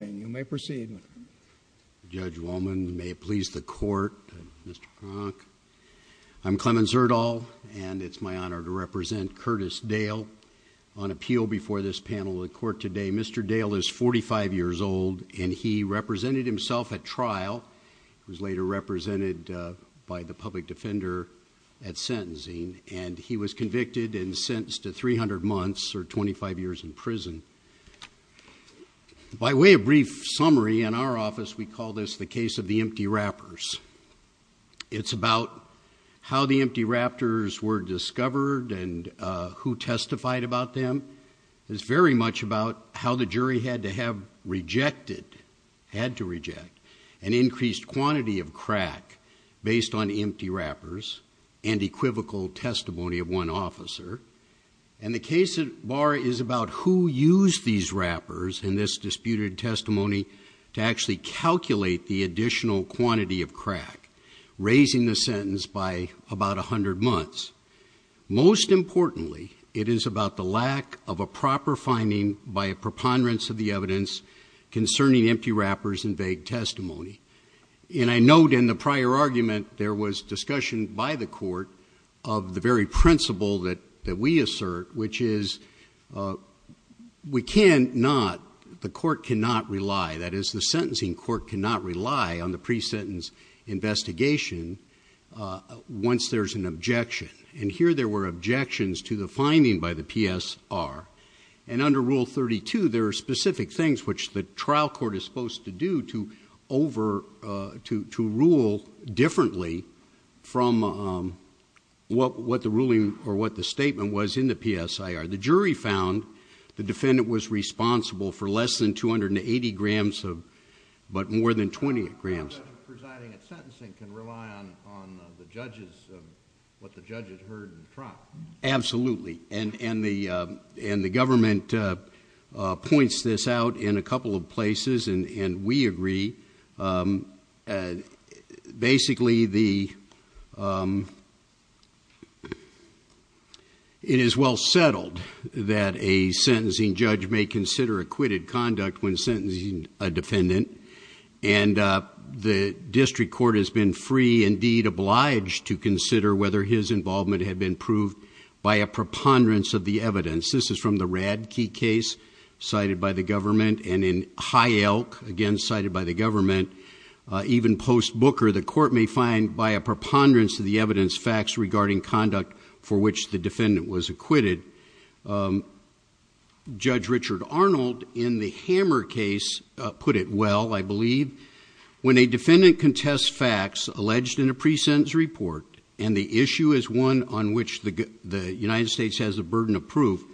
and you may proceed. Judge Wallman, may it please the court, Mr. Cronk. I'm Clemens Erdahl and it's my honor to represent Curtis Dale on appeal before this panel of the court today. Mr. Dale is 45 years old and he represented himself at trial. He was later represented by the public defender at sentencing and he was convicted and sentenced to 300 months or 25 years in prison. By way of brief summary, in our office we call this the case of the empty wrappers. It's about how the empty raptors were discovered and who testified about them. It's very much about how the jury had to have rejected, had to reject, an increased quantity of crack based on empty of one officer. And the case at bar is about who used these wrappers in this disputed testimony to actually calculate the additional quantity of crack, raising the sentence by about 100 months. Most importantly, it is about the lack of a proper finding by a preponderance of the evidence concerning empty wrappers and vague testimony. And I note in the prior argument there was discussion by the court of the very principle that we assert, which is, we cannot, the court cannot rely, that is the sentencing court cannot rely on the pre-sentence investigation once there's an objection. And here there were objections to the finding by the PSR and under rule 32 there are specific things which the trial court is supposed to do to rule differently from what the ruling or what the statement was in the PSIR. The jury found the defendant was responsible for less than 280 grams of, but more than 20 grams. How does presiding at sentencing can rely on the judges, what the judges heard in the trial? Absolutely. And the government points this out in a couple of places and we agree. Basically the, it is well settled that a sentencing judge may consider acquitted conduct when sentencing a defendant and the district court has been free, indeed obliged, to consider whether his involvement had been proved by a preponderance of the evidence. This is from the Radtke case cited by the government and in High Elk, again cited by the government, even post-Booker, the court may find by a preponderance of the evidence facts regarding conduct for which the defendant was acquitted. Judge Richard Arnold in the Hammer case put it well, I believe, when a defendant contests facts alleged in a pre-sentence report and the issue is one on which the United States has a burden of proof,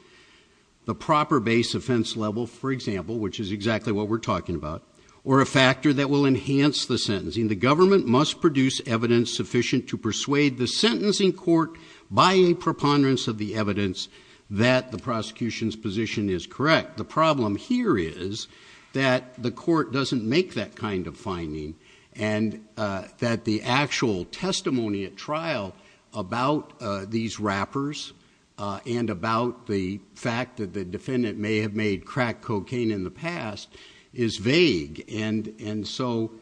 the proper base offense level, for example, which is exactly what we're talking about, or a factor that will enhance the sentencing, the government must produce evidence sufficient to persuade the sentencing court by a preponderance of the evidence that the prosecution's position is correct. The problem here is that the court doesn't make that kind of finding and that the actual testimony at trial about these wrappers and about the fact that the defendant may have made crack cocaine in the past is vague and so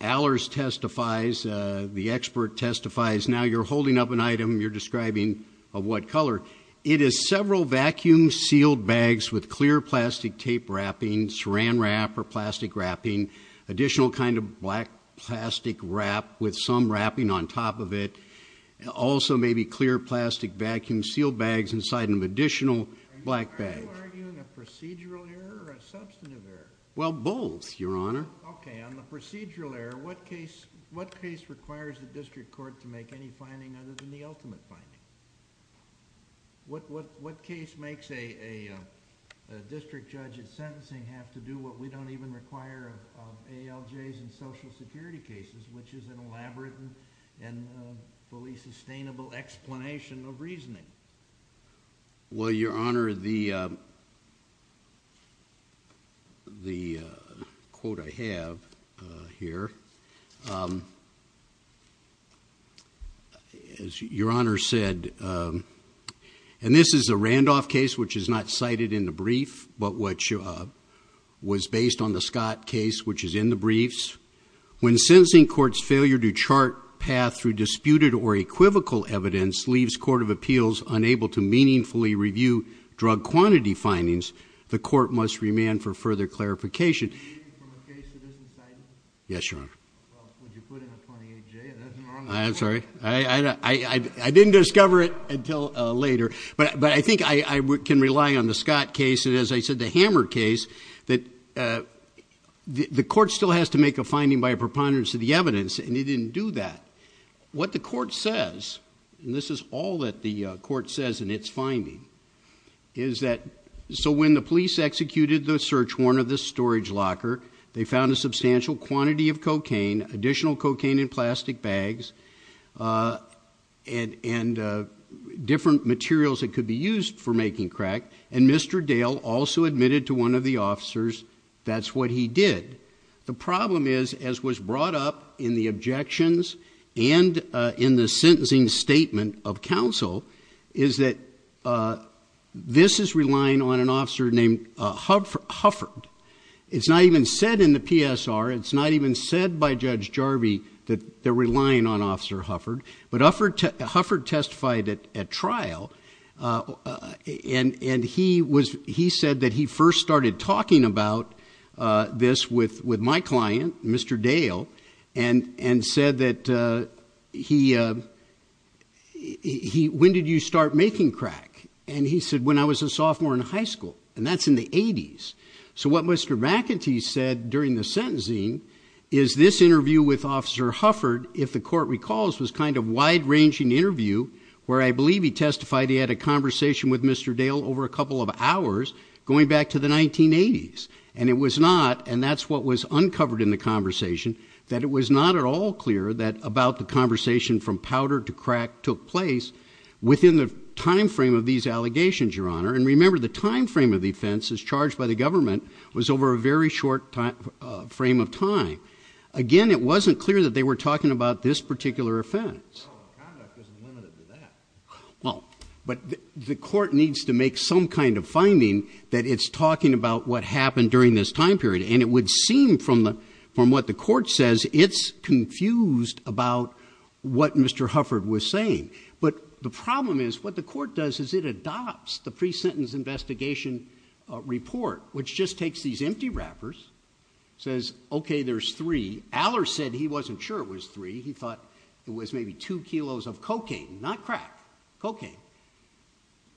Allers testifies, the expert testifies, now you're holding up an item, you're describing of what color. It is several vacuum sealed bags with clear plastic tape wrapping, saran wrap or plastic wrapping, additional kind of black plastic wrap with some wrapping on top of it, also maybe clear plastic vacuum sealed bags inside an additional black bag. Are you arguing a procedural error or a substantive error? Well, both, your honor. Okay, on the procedural error, what case requires the district court to make any finding other than the ultimate finding? What case makes a district judge at sentencing have to do what we don't even require of ALJs and social security cases, which is an elaborate and fully sustainable explanation of reasoning? Well, your honor, the quote I have here, as your honor said, and this is a Randolph case, which is not cited in the brief, but which was based on the Scott case, which is in the briefs. When sentencing court's failure to chart path through disputed or equivocal evidence leaves court of appeals unable to meaningfully review drug quantity findings, the court must remand for further clarification. Yes, your honor. I'm sorry, I didn't discover it until later, but I think I can rely on the Scott case. As I said, the hammer case that the court still has to make a finding by a preponderance of the evidence, and he didn't do that. What the court says, and this is all that the court says in its finding, is that, so when the police executed the search warrant of the storage locker, they found a substantial quantity of cocaine, additional cocaine in plastic bags, and different materials that could be used for making crack, and Mr. Dale also admitted to one of the officers that's what he did. The problem is, as was brought up in the objections and in the sentencing statement of counsel, is that this is relying on an officer named Hufford. It's not even said in the PSR, it's not even said by Judge Jarvie that they're relying on Officer Hufford, but Hufford testified at trial, and he said that he first started talking about this with my client, Mr. Dale, and said that, when did you start making crack? And he said, when I was a sophomore in high school, and that's in the 80s. So what Mr. McEntee said during the sentencing is this interview with Officer Hufford, if the court recalls, was kind of wide-ranging interview, where I believe he testified he had a conversation with Mr. Dale over a couple of hours, going back to the 1980s, and it was not, and that's what was uncovered in the conversation, that it was not at all clear that about the conversation from powder to crack took place within the time frame of these allegations, Your Honor. And remember, the time frame of the offense as charged by the government was over a very short frame of time. Again, it wasn't clear that they were talking about this particular offense. Oh, the conduct isn't limited to that. Well, but the court needs to make some kind of finding that it's talking about what happened during this time period, and it would seem, from what the court says, it's confused about what Mr. Hufford was saying, but the problem is what the court does is it adopts the pre-sentence investigation report, which just takes these empty wrappers, says, okay, there's three. Aller said he wasn't sure it was three. He thought it was maybe two kilos of cocaine, not crack, cocaine,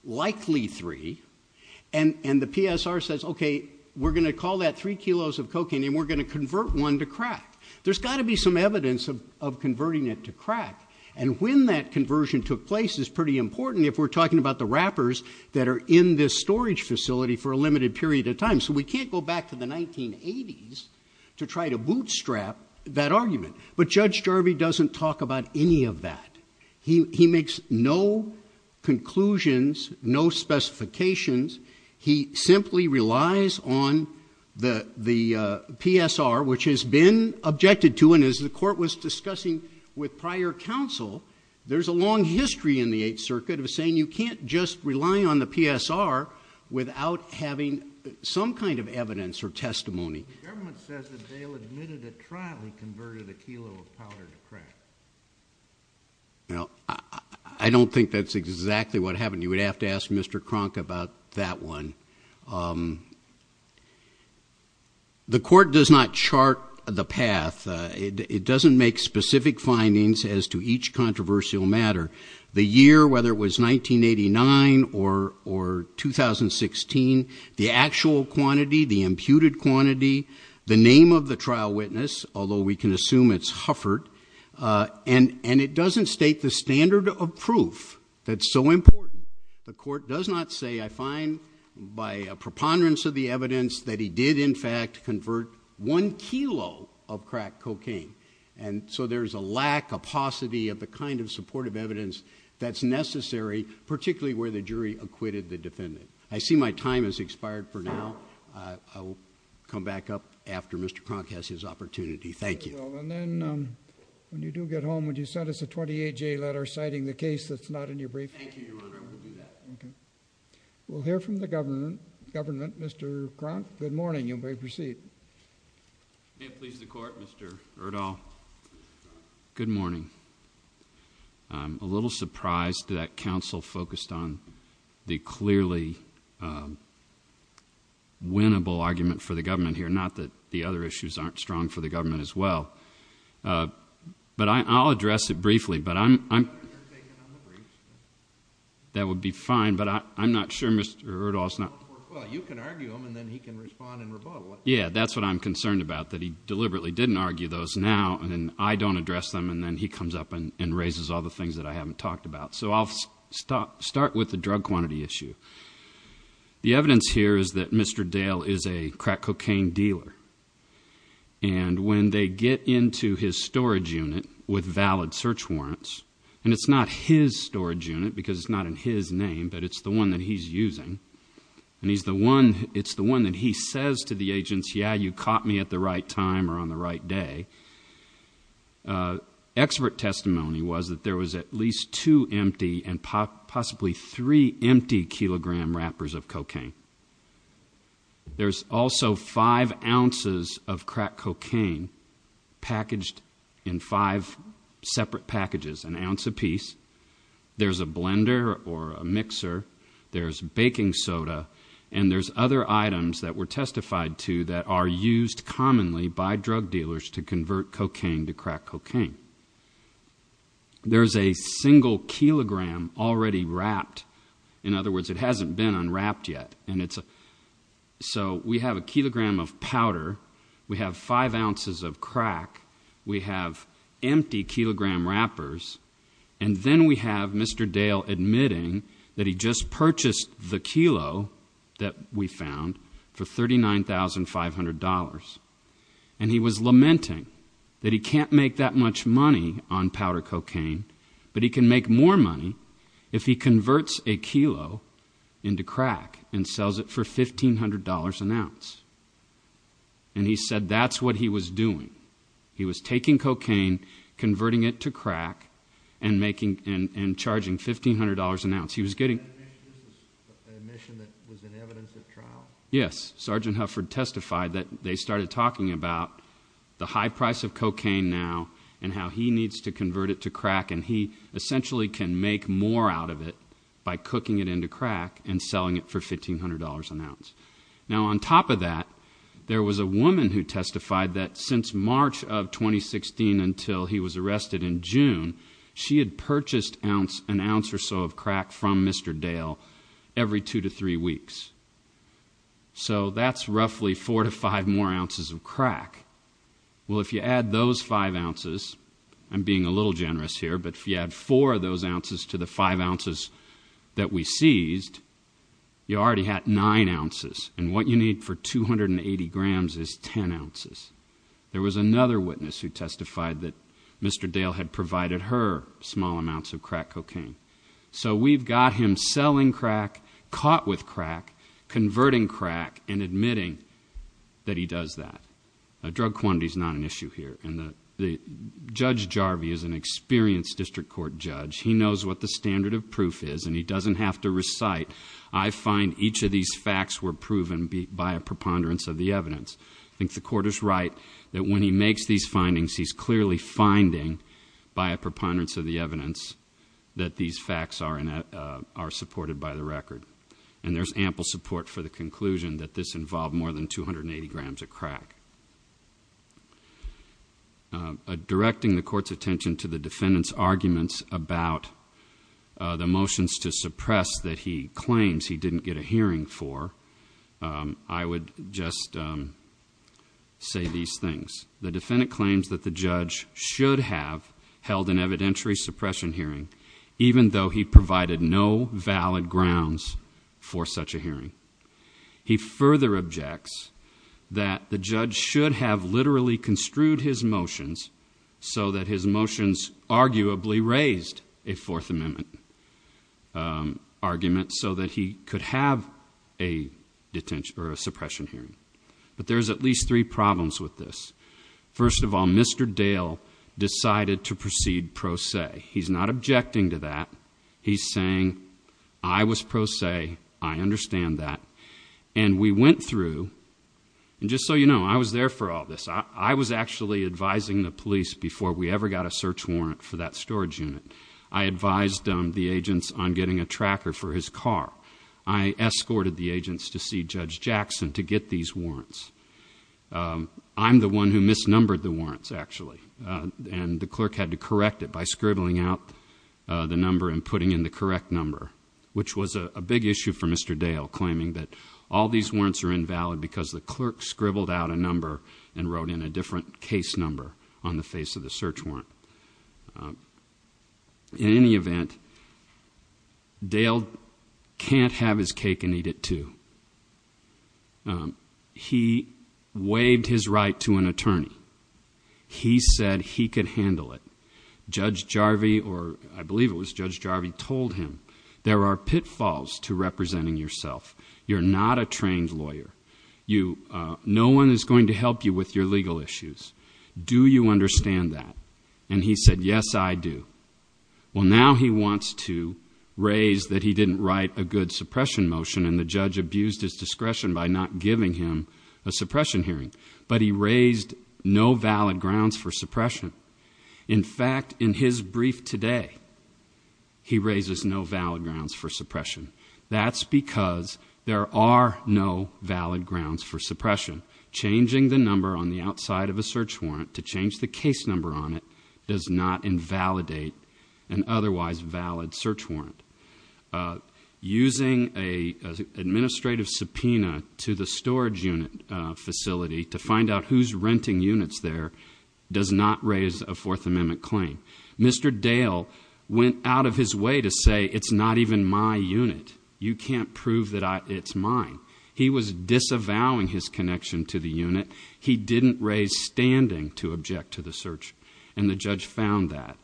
likely three, and the PSR says, okay, we're going to call that three kilos of cocaine, and we're going to convert one to crack. There's got to be some evidence of converting it to crack, and when that conversion took place is pretty important if we're talking about the wrappers that are in this storage facility for a limited period of time. So we can't go back to the 1980s to try to bootstrap that argument, but Judge Jarvie doesn't talk about any of that. He makes no conclusions, no specifications. He simply relies on the PSR, which has been objected to, and as the court was discussing with prior counsel, there's a long history in the Eighth Circuit of saying you can't just rely on the PSR without having some kind of evidence or testimony. The government says that Dale admitted at trial he converted a kilo of powder to crack. Now, I don't think that's exactly what happened. You would have to ask Mr. Kronk about that one. The court does not chart the path. It doesn't make specific findings as to each controversial matter. The year, whether it was 1989 or 2016, the actual quantity, the imputed quantity, the name of the trial witness, although we can assume it's Hufford, and it doesn't state the standard of proof that's so important. The court does not say, I find by a preponderance of the evidence that he did, in fact, convert one kilo of crack cocaine, and so there's a lack, a paucity of the kind of supportive evidence that's necessary, particularly where the jury acquitted the defendant. I see my time has expired for now. I will come back up after Mr. Kronk has his opportunity. Thank you. Well, and then when you do get home, would you send us a 28-J letter citing the case that's not in your brief? Thank you, Your Honor. I will do that. Okay. We'll hear from the government. Mr. Kronk, good morning. You may proceed. May it please the Court, Mr. Erdahl. Good morning. I'm a little surprised that that counsel focused on the clearly winnable argument for the government here, not that the other issues aren't strong for the government as well, but I'll address it briefly, but I'm not sure Mr. Erdahl's not... Well, you can argue them, and then he can respond and rebuttal it. Yeah, that's what I'm concerned about, that he deliberately didn't argue those now, and I don't address them, and then he comes up and raises all the things that I haven't talked about. So I'll start with the drug quantity issue. The evidence here is that Mr. Dale is a crack cocaine dealer, and when they get into his storage unit with valid search warrants, and it's not his storage unit because it's not in his name, but it's the one that he's using, and it's the one that he says to the agents, yeah, you caught me at the right time or on the right day. Expert testimony was that there was at least two empty and possibly three empty kilogram wrappers of cocaine. There's also five ounces of crack cocaine packaged in five separate packages, an ounce apiece. There's a blender or a mixer. There's baking soda, and there's other items that were testified to that are used commonly by drug dealers to convert cocaine to crack cocaine. There's a single kilogram already wrapped. In other words, it hasn't been unwrapped yet, and it's a... So we have a kilogram of powder. We have five ounces of crack. We have empty kilogram wrappers, and then we have Mr. Dale admitting that he just purchased the kilo that we found for $39,500, and he was lamenting that he can't make that much money on powder cocaine, but he can make more money if he converts a kilo into crack and sells it for $1,500 an ounce. And he said that's what he was doing. He was taking cocaine, converting it to crack, and making and charging $1,500 an ounce. He was getting... You mentioned that this was an admission that was in evidence at trial? Yes. Sergeant Hufford testified that they started talking about the high price of cocaine now and how he needs to convert it to crack, and he essentially can make more out of it by cooking it into crack and selling it for $1,500 an ounce. Now, on top of that, there was a woman who testified that since March of 2016 until he was arrested in June, she had purchased an ounce or so of crack from Mr. Dale every two to three weeks. So that's roughly four to five more ounces of crack. Well, if you add those five ounces, I'm being a little generous here, but if you add four of those ounces to the five ounces that we seized, you already had nine ounces, and what you need for 280 grams is 10 ounces. There was another witness who testified that Mr. Dale had provided her small amounts of crack that he does that. Drug quantity is not an issue here, and Judge Jarvie is an experienced district court judge. He knows what the standard of proof is, and he doesn't have to recite, I find each of these facts were proven by a preponderance of the evidence. I think the court is right that when he makes these findings, he's clearly finding by a preponderance of the evidence that these facts are supported by the record, and there's ample support for the conclusion that this involved more than 280 grams of crack. Directing the court's attention to the defendant's arguments about the motions to suppress that he claims he didn't get a hearing for, I would just say these things. The defendant claims that the judge should have held an evidentiary suppression hearing, even though he provided no valid grounds for such a hearing. He further objects that the judge should have literally construed his motions so that his motions arguably raised a Fourth Amendment argument so that he could have a suppression hearing, but there's at least three problems with this. First of all, Mr. Dale decided to proceed pro se. He's not objecting to that. He's saying, I was pro se, I understand that, and we went through, and just so you know, I was there for all this. I was actually advising the police before we ever got a search warrant for that storage unit. I advised the agents on getting a tracker for his car. I escorted the agents to see Judge Jackson to get these warrants. I'm the one who misnumbered the warrants, actually, and the clerk had to correct it by scribbling out the number and putting in the correct number, which was a big issue for Mr. Dale, claiming that all these warrants are invalid because the clerk scribbled out a number and wrote in a different case number on the face of the search warrant. In any event, Dale can't have his cake and eat it too. He waived his right to an attorney. He said he could handle it. Judge Jarvie, or I believe it was Judge Jarvie, told him, there are pitfalls to representing yourself. You're not a trained lawyer. No one is going to help you with your legal issues. Do you understand that? And he said, yes, I do. Well, now he wants to raise that he didn't write a good suppression motion and the judge abused his discretion by not giving him a suppression hearing, but he raised no valid grounds for suppression. In fact, in his brief today, he raises no are no valid grounds for suppression. Changing the number on the outside of a search warrant to change the case number on it does not invalidate an otherwise valid search warrant. Using an administrative subpoena to the storage unit facility to find out who's renting units there does not raise a Fourth Amendment claim. Mr. Dale went out of his way to say it's not even my unit. You can't prove that it's mine. He was disavowing his connection to the unit. He didn't raise standing to object to the search and the judge found that.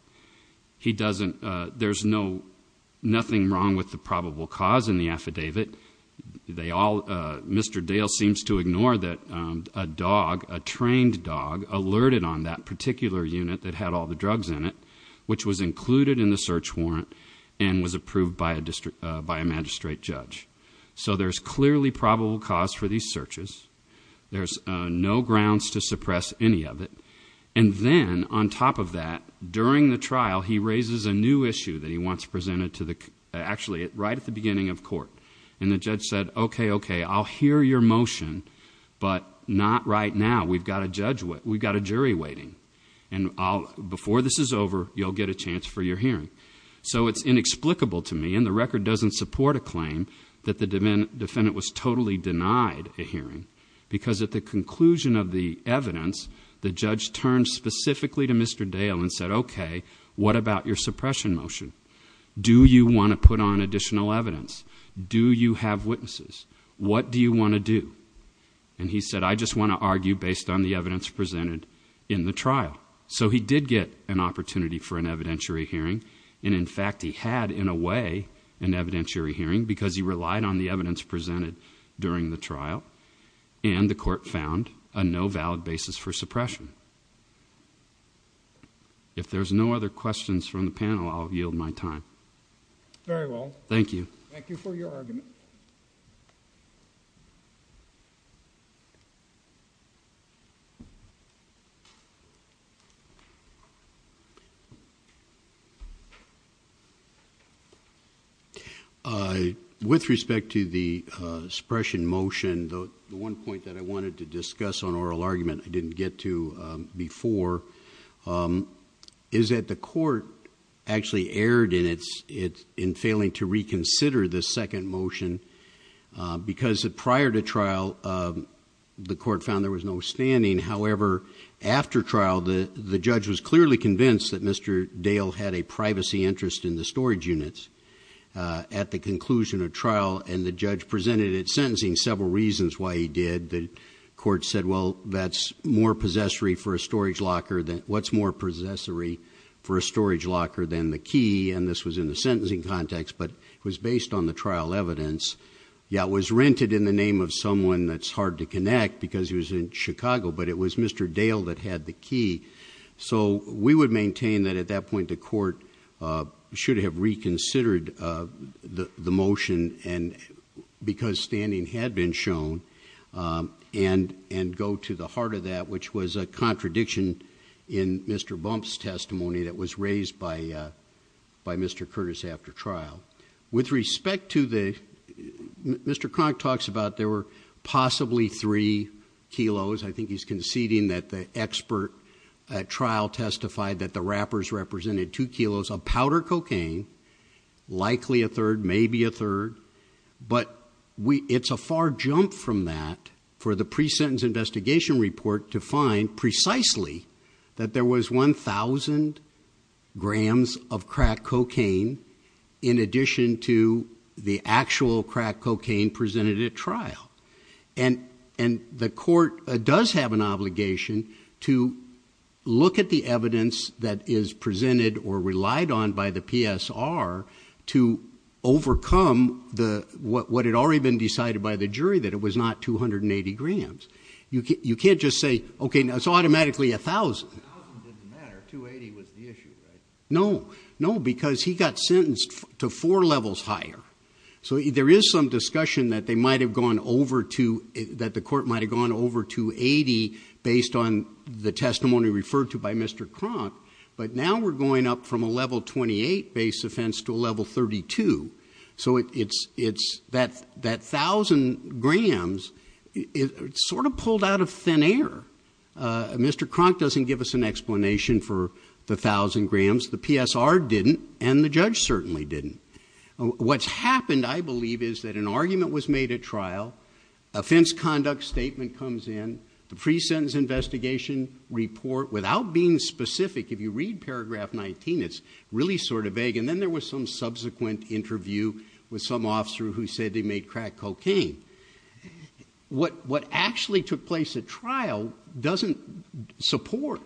There's nothing wrong with the probable cause in the affidavit. Mr. Dale seems to ignore that a dog, a trained dog, alerted on that particular unit that had all the drugs in it, which was included in the search warrant and was approved by a magistrate judge. So there's clearly probable cause for these searches. There's no grounds to suppress any of it. And then on top of that, during the trial, he raises a new issue that he wants presented to the actually right at the beginning of court. And the judge said, OK, OK, I'll hear your motion, but not right now. We've got a judge. We've got a jury waiting. And before this is over, you'll get a chance for your hearing. So it's inexplicable to me and the record doesn't support a claim that the defendant was totally denied a hearing because at the conclusion of the evidence, the judge turned specifically to Mr. Dale and said, OK, what about your suppression motion? Do you want to put on additional evidence? Do you have witnesses? What do you want to do? And he said, I just want to argue based on the evidence presented in the trial. So he did get an opportunity for an evidentiary hearing. And in fact, he had, in a way, an evidentiary hearing because he relied on the evidence presented during the trial. And the court found a no valid basis for suppression. If there's no other questions from the panel, I'll yield my time. Very well. Thank you. Thank you for your argument. With respect to the suppression motion, the one point that I wanted to discuss on oral argument I didn't get to before is that the court actually erred in failing to reconsider the second motion because prior to trial, the court found there was no standing. However, after trial, the judge was clearly convinced that Mr. Dale had a privacy interest in the storage units. At the conclusion of trial, and the judge presented it sentencing, several reasons why he did. The court said, well, that's more possessory for a storage locker than, what's more possessory for a storage locker than the key? And this was in the sentencing context, but it was based on the trial evidence. Yeah, it was rented in the name of someone that's hard to connect because he was in Chicago, but it was Mr. Dale that had the key. So we would maintain that at that point, the court should have reconsidered the motion and because standing had been shown and go to the heart of that, which was a contradiction in Mr. Bump's testimony that was raised by Mr. Curtis after trial. With respect to the, Mr. Cronk talks about there were possibly three kilos. I think he's conceding that the expert at trial testified that the wrappers represented two kilos of powder cocaine, likely a third, maybe a third, but it's a far jump from that for the pre-sentence in addition to the actual crack cocaine presented at trial. And the court does have an obligation to look at the evidence that is presented or relied on by the PSR to overcome what had already been decided by the jury that it was not 280 grams. You can't just say, okay, that's four levels higher. So there is some discussion that they might have gone over to, that the court might've gone over to 80 based on the testimony referred to by Mr. Cronk, but now we're going up from a level 28 base offense to a level 32. So it's, it's that, that thousand grams, it sort of pulled out of thin air. Mr. Cronk doesn't give us an explanation for the thousand grams. The PSR didn't, and the judge certainly didn't. What's happened, I believe, is that an argument was made at trial, offense conduct statement comes in, the pre-sentence investigation report, without being specific, if you read paragraph 19, it's really sort of vague. And then there was some subsequent interview with some officer who said they made crack cocaine. What, what actually took place at trial doesn't support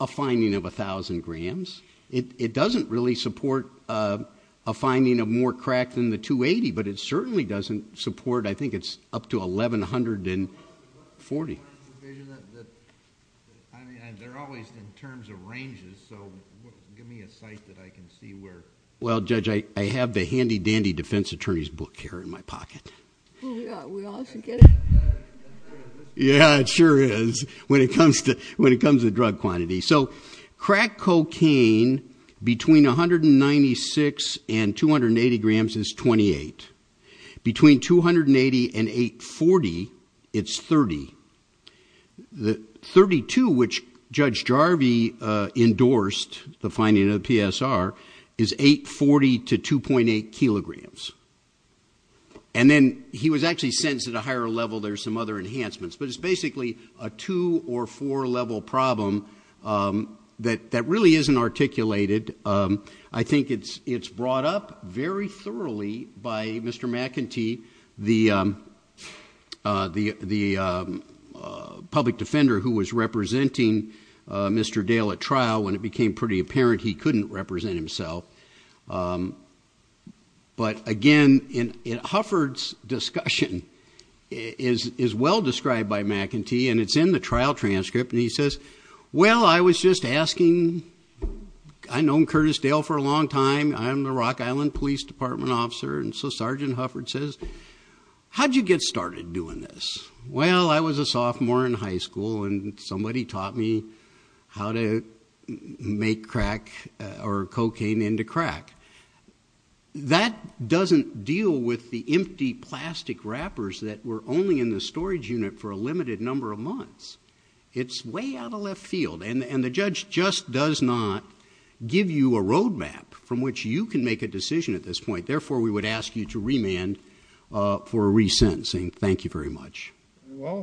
a finding of a thousand grams. It, it doesn't really support, uh, a finding of more crack than the 280, but it certainly doesn't support, I think it's up to 1,140. I mean, they're always in terms of ranges. So give me a site that I can see where... It's in my pocket. Oh yeah, we often get it. Yeah, it sure is, when it comes to, when it comes to drug quantity. So crack cocaine between 196 and 280 grams is 28. Between 280 and 840, it's 30. The 32, which Judge Jarvie, uh, endorsed the finding of the PSR, is 840 to 2.8 kilograms. And then he was actually sentenced at a higher level. There's some other enhancements, but it's basically a two or four level problem, um, that, that really isn't articulated. Um, I think it's, it's brought up very thoroughly by Mr. McEntee, the, um, uh, the, the, um, uh, public defender who was representing, uh, Mr. Dale at trial when it became pretty apparent he couldn't represent himself. Um, but again, in, in Hufford's discussion is, is well described by McEntee and it's in the trial transcript and he says, well, I was just asking... I've known Curtis Dale for a long time. I'm the Rock Island Police Department officer. And so Sergeant Hufford says, how'd you get started doing this? Well, I was a sophomore in high school and somebody taught me how to make crack or cocaine into crack. That doesn't deal with the empty plastic wrappers that were only in the storage unit for a limited number of months. It's way out of left field and, and the judge just does not give you a roadmap from which you can make a decision at this point. Therefore, we would ask you to remand, uh, for resentencing. Thank you very much. Well, thank you.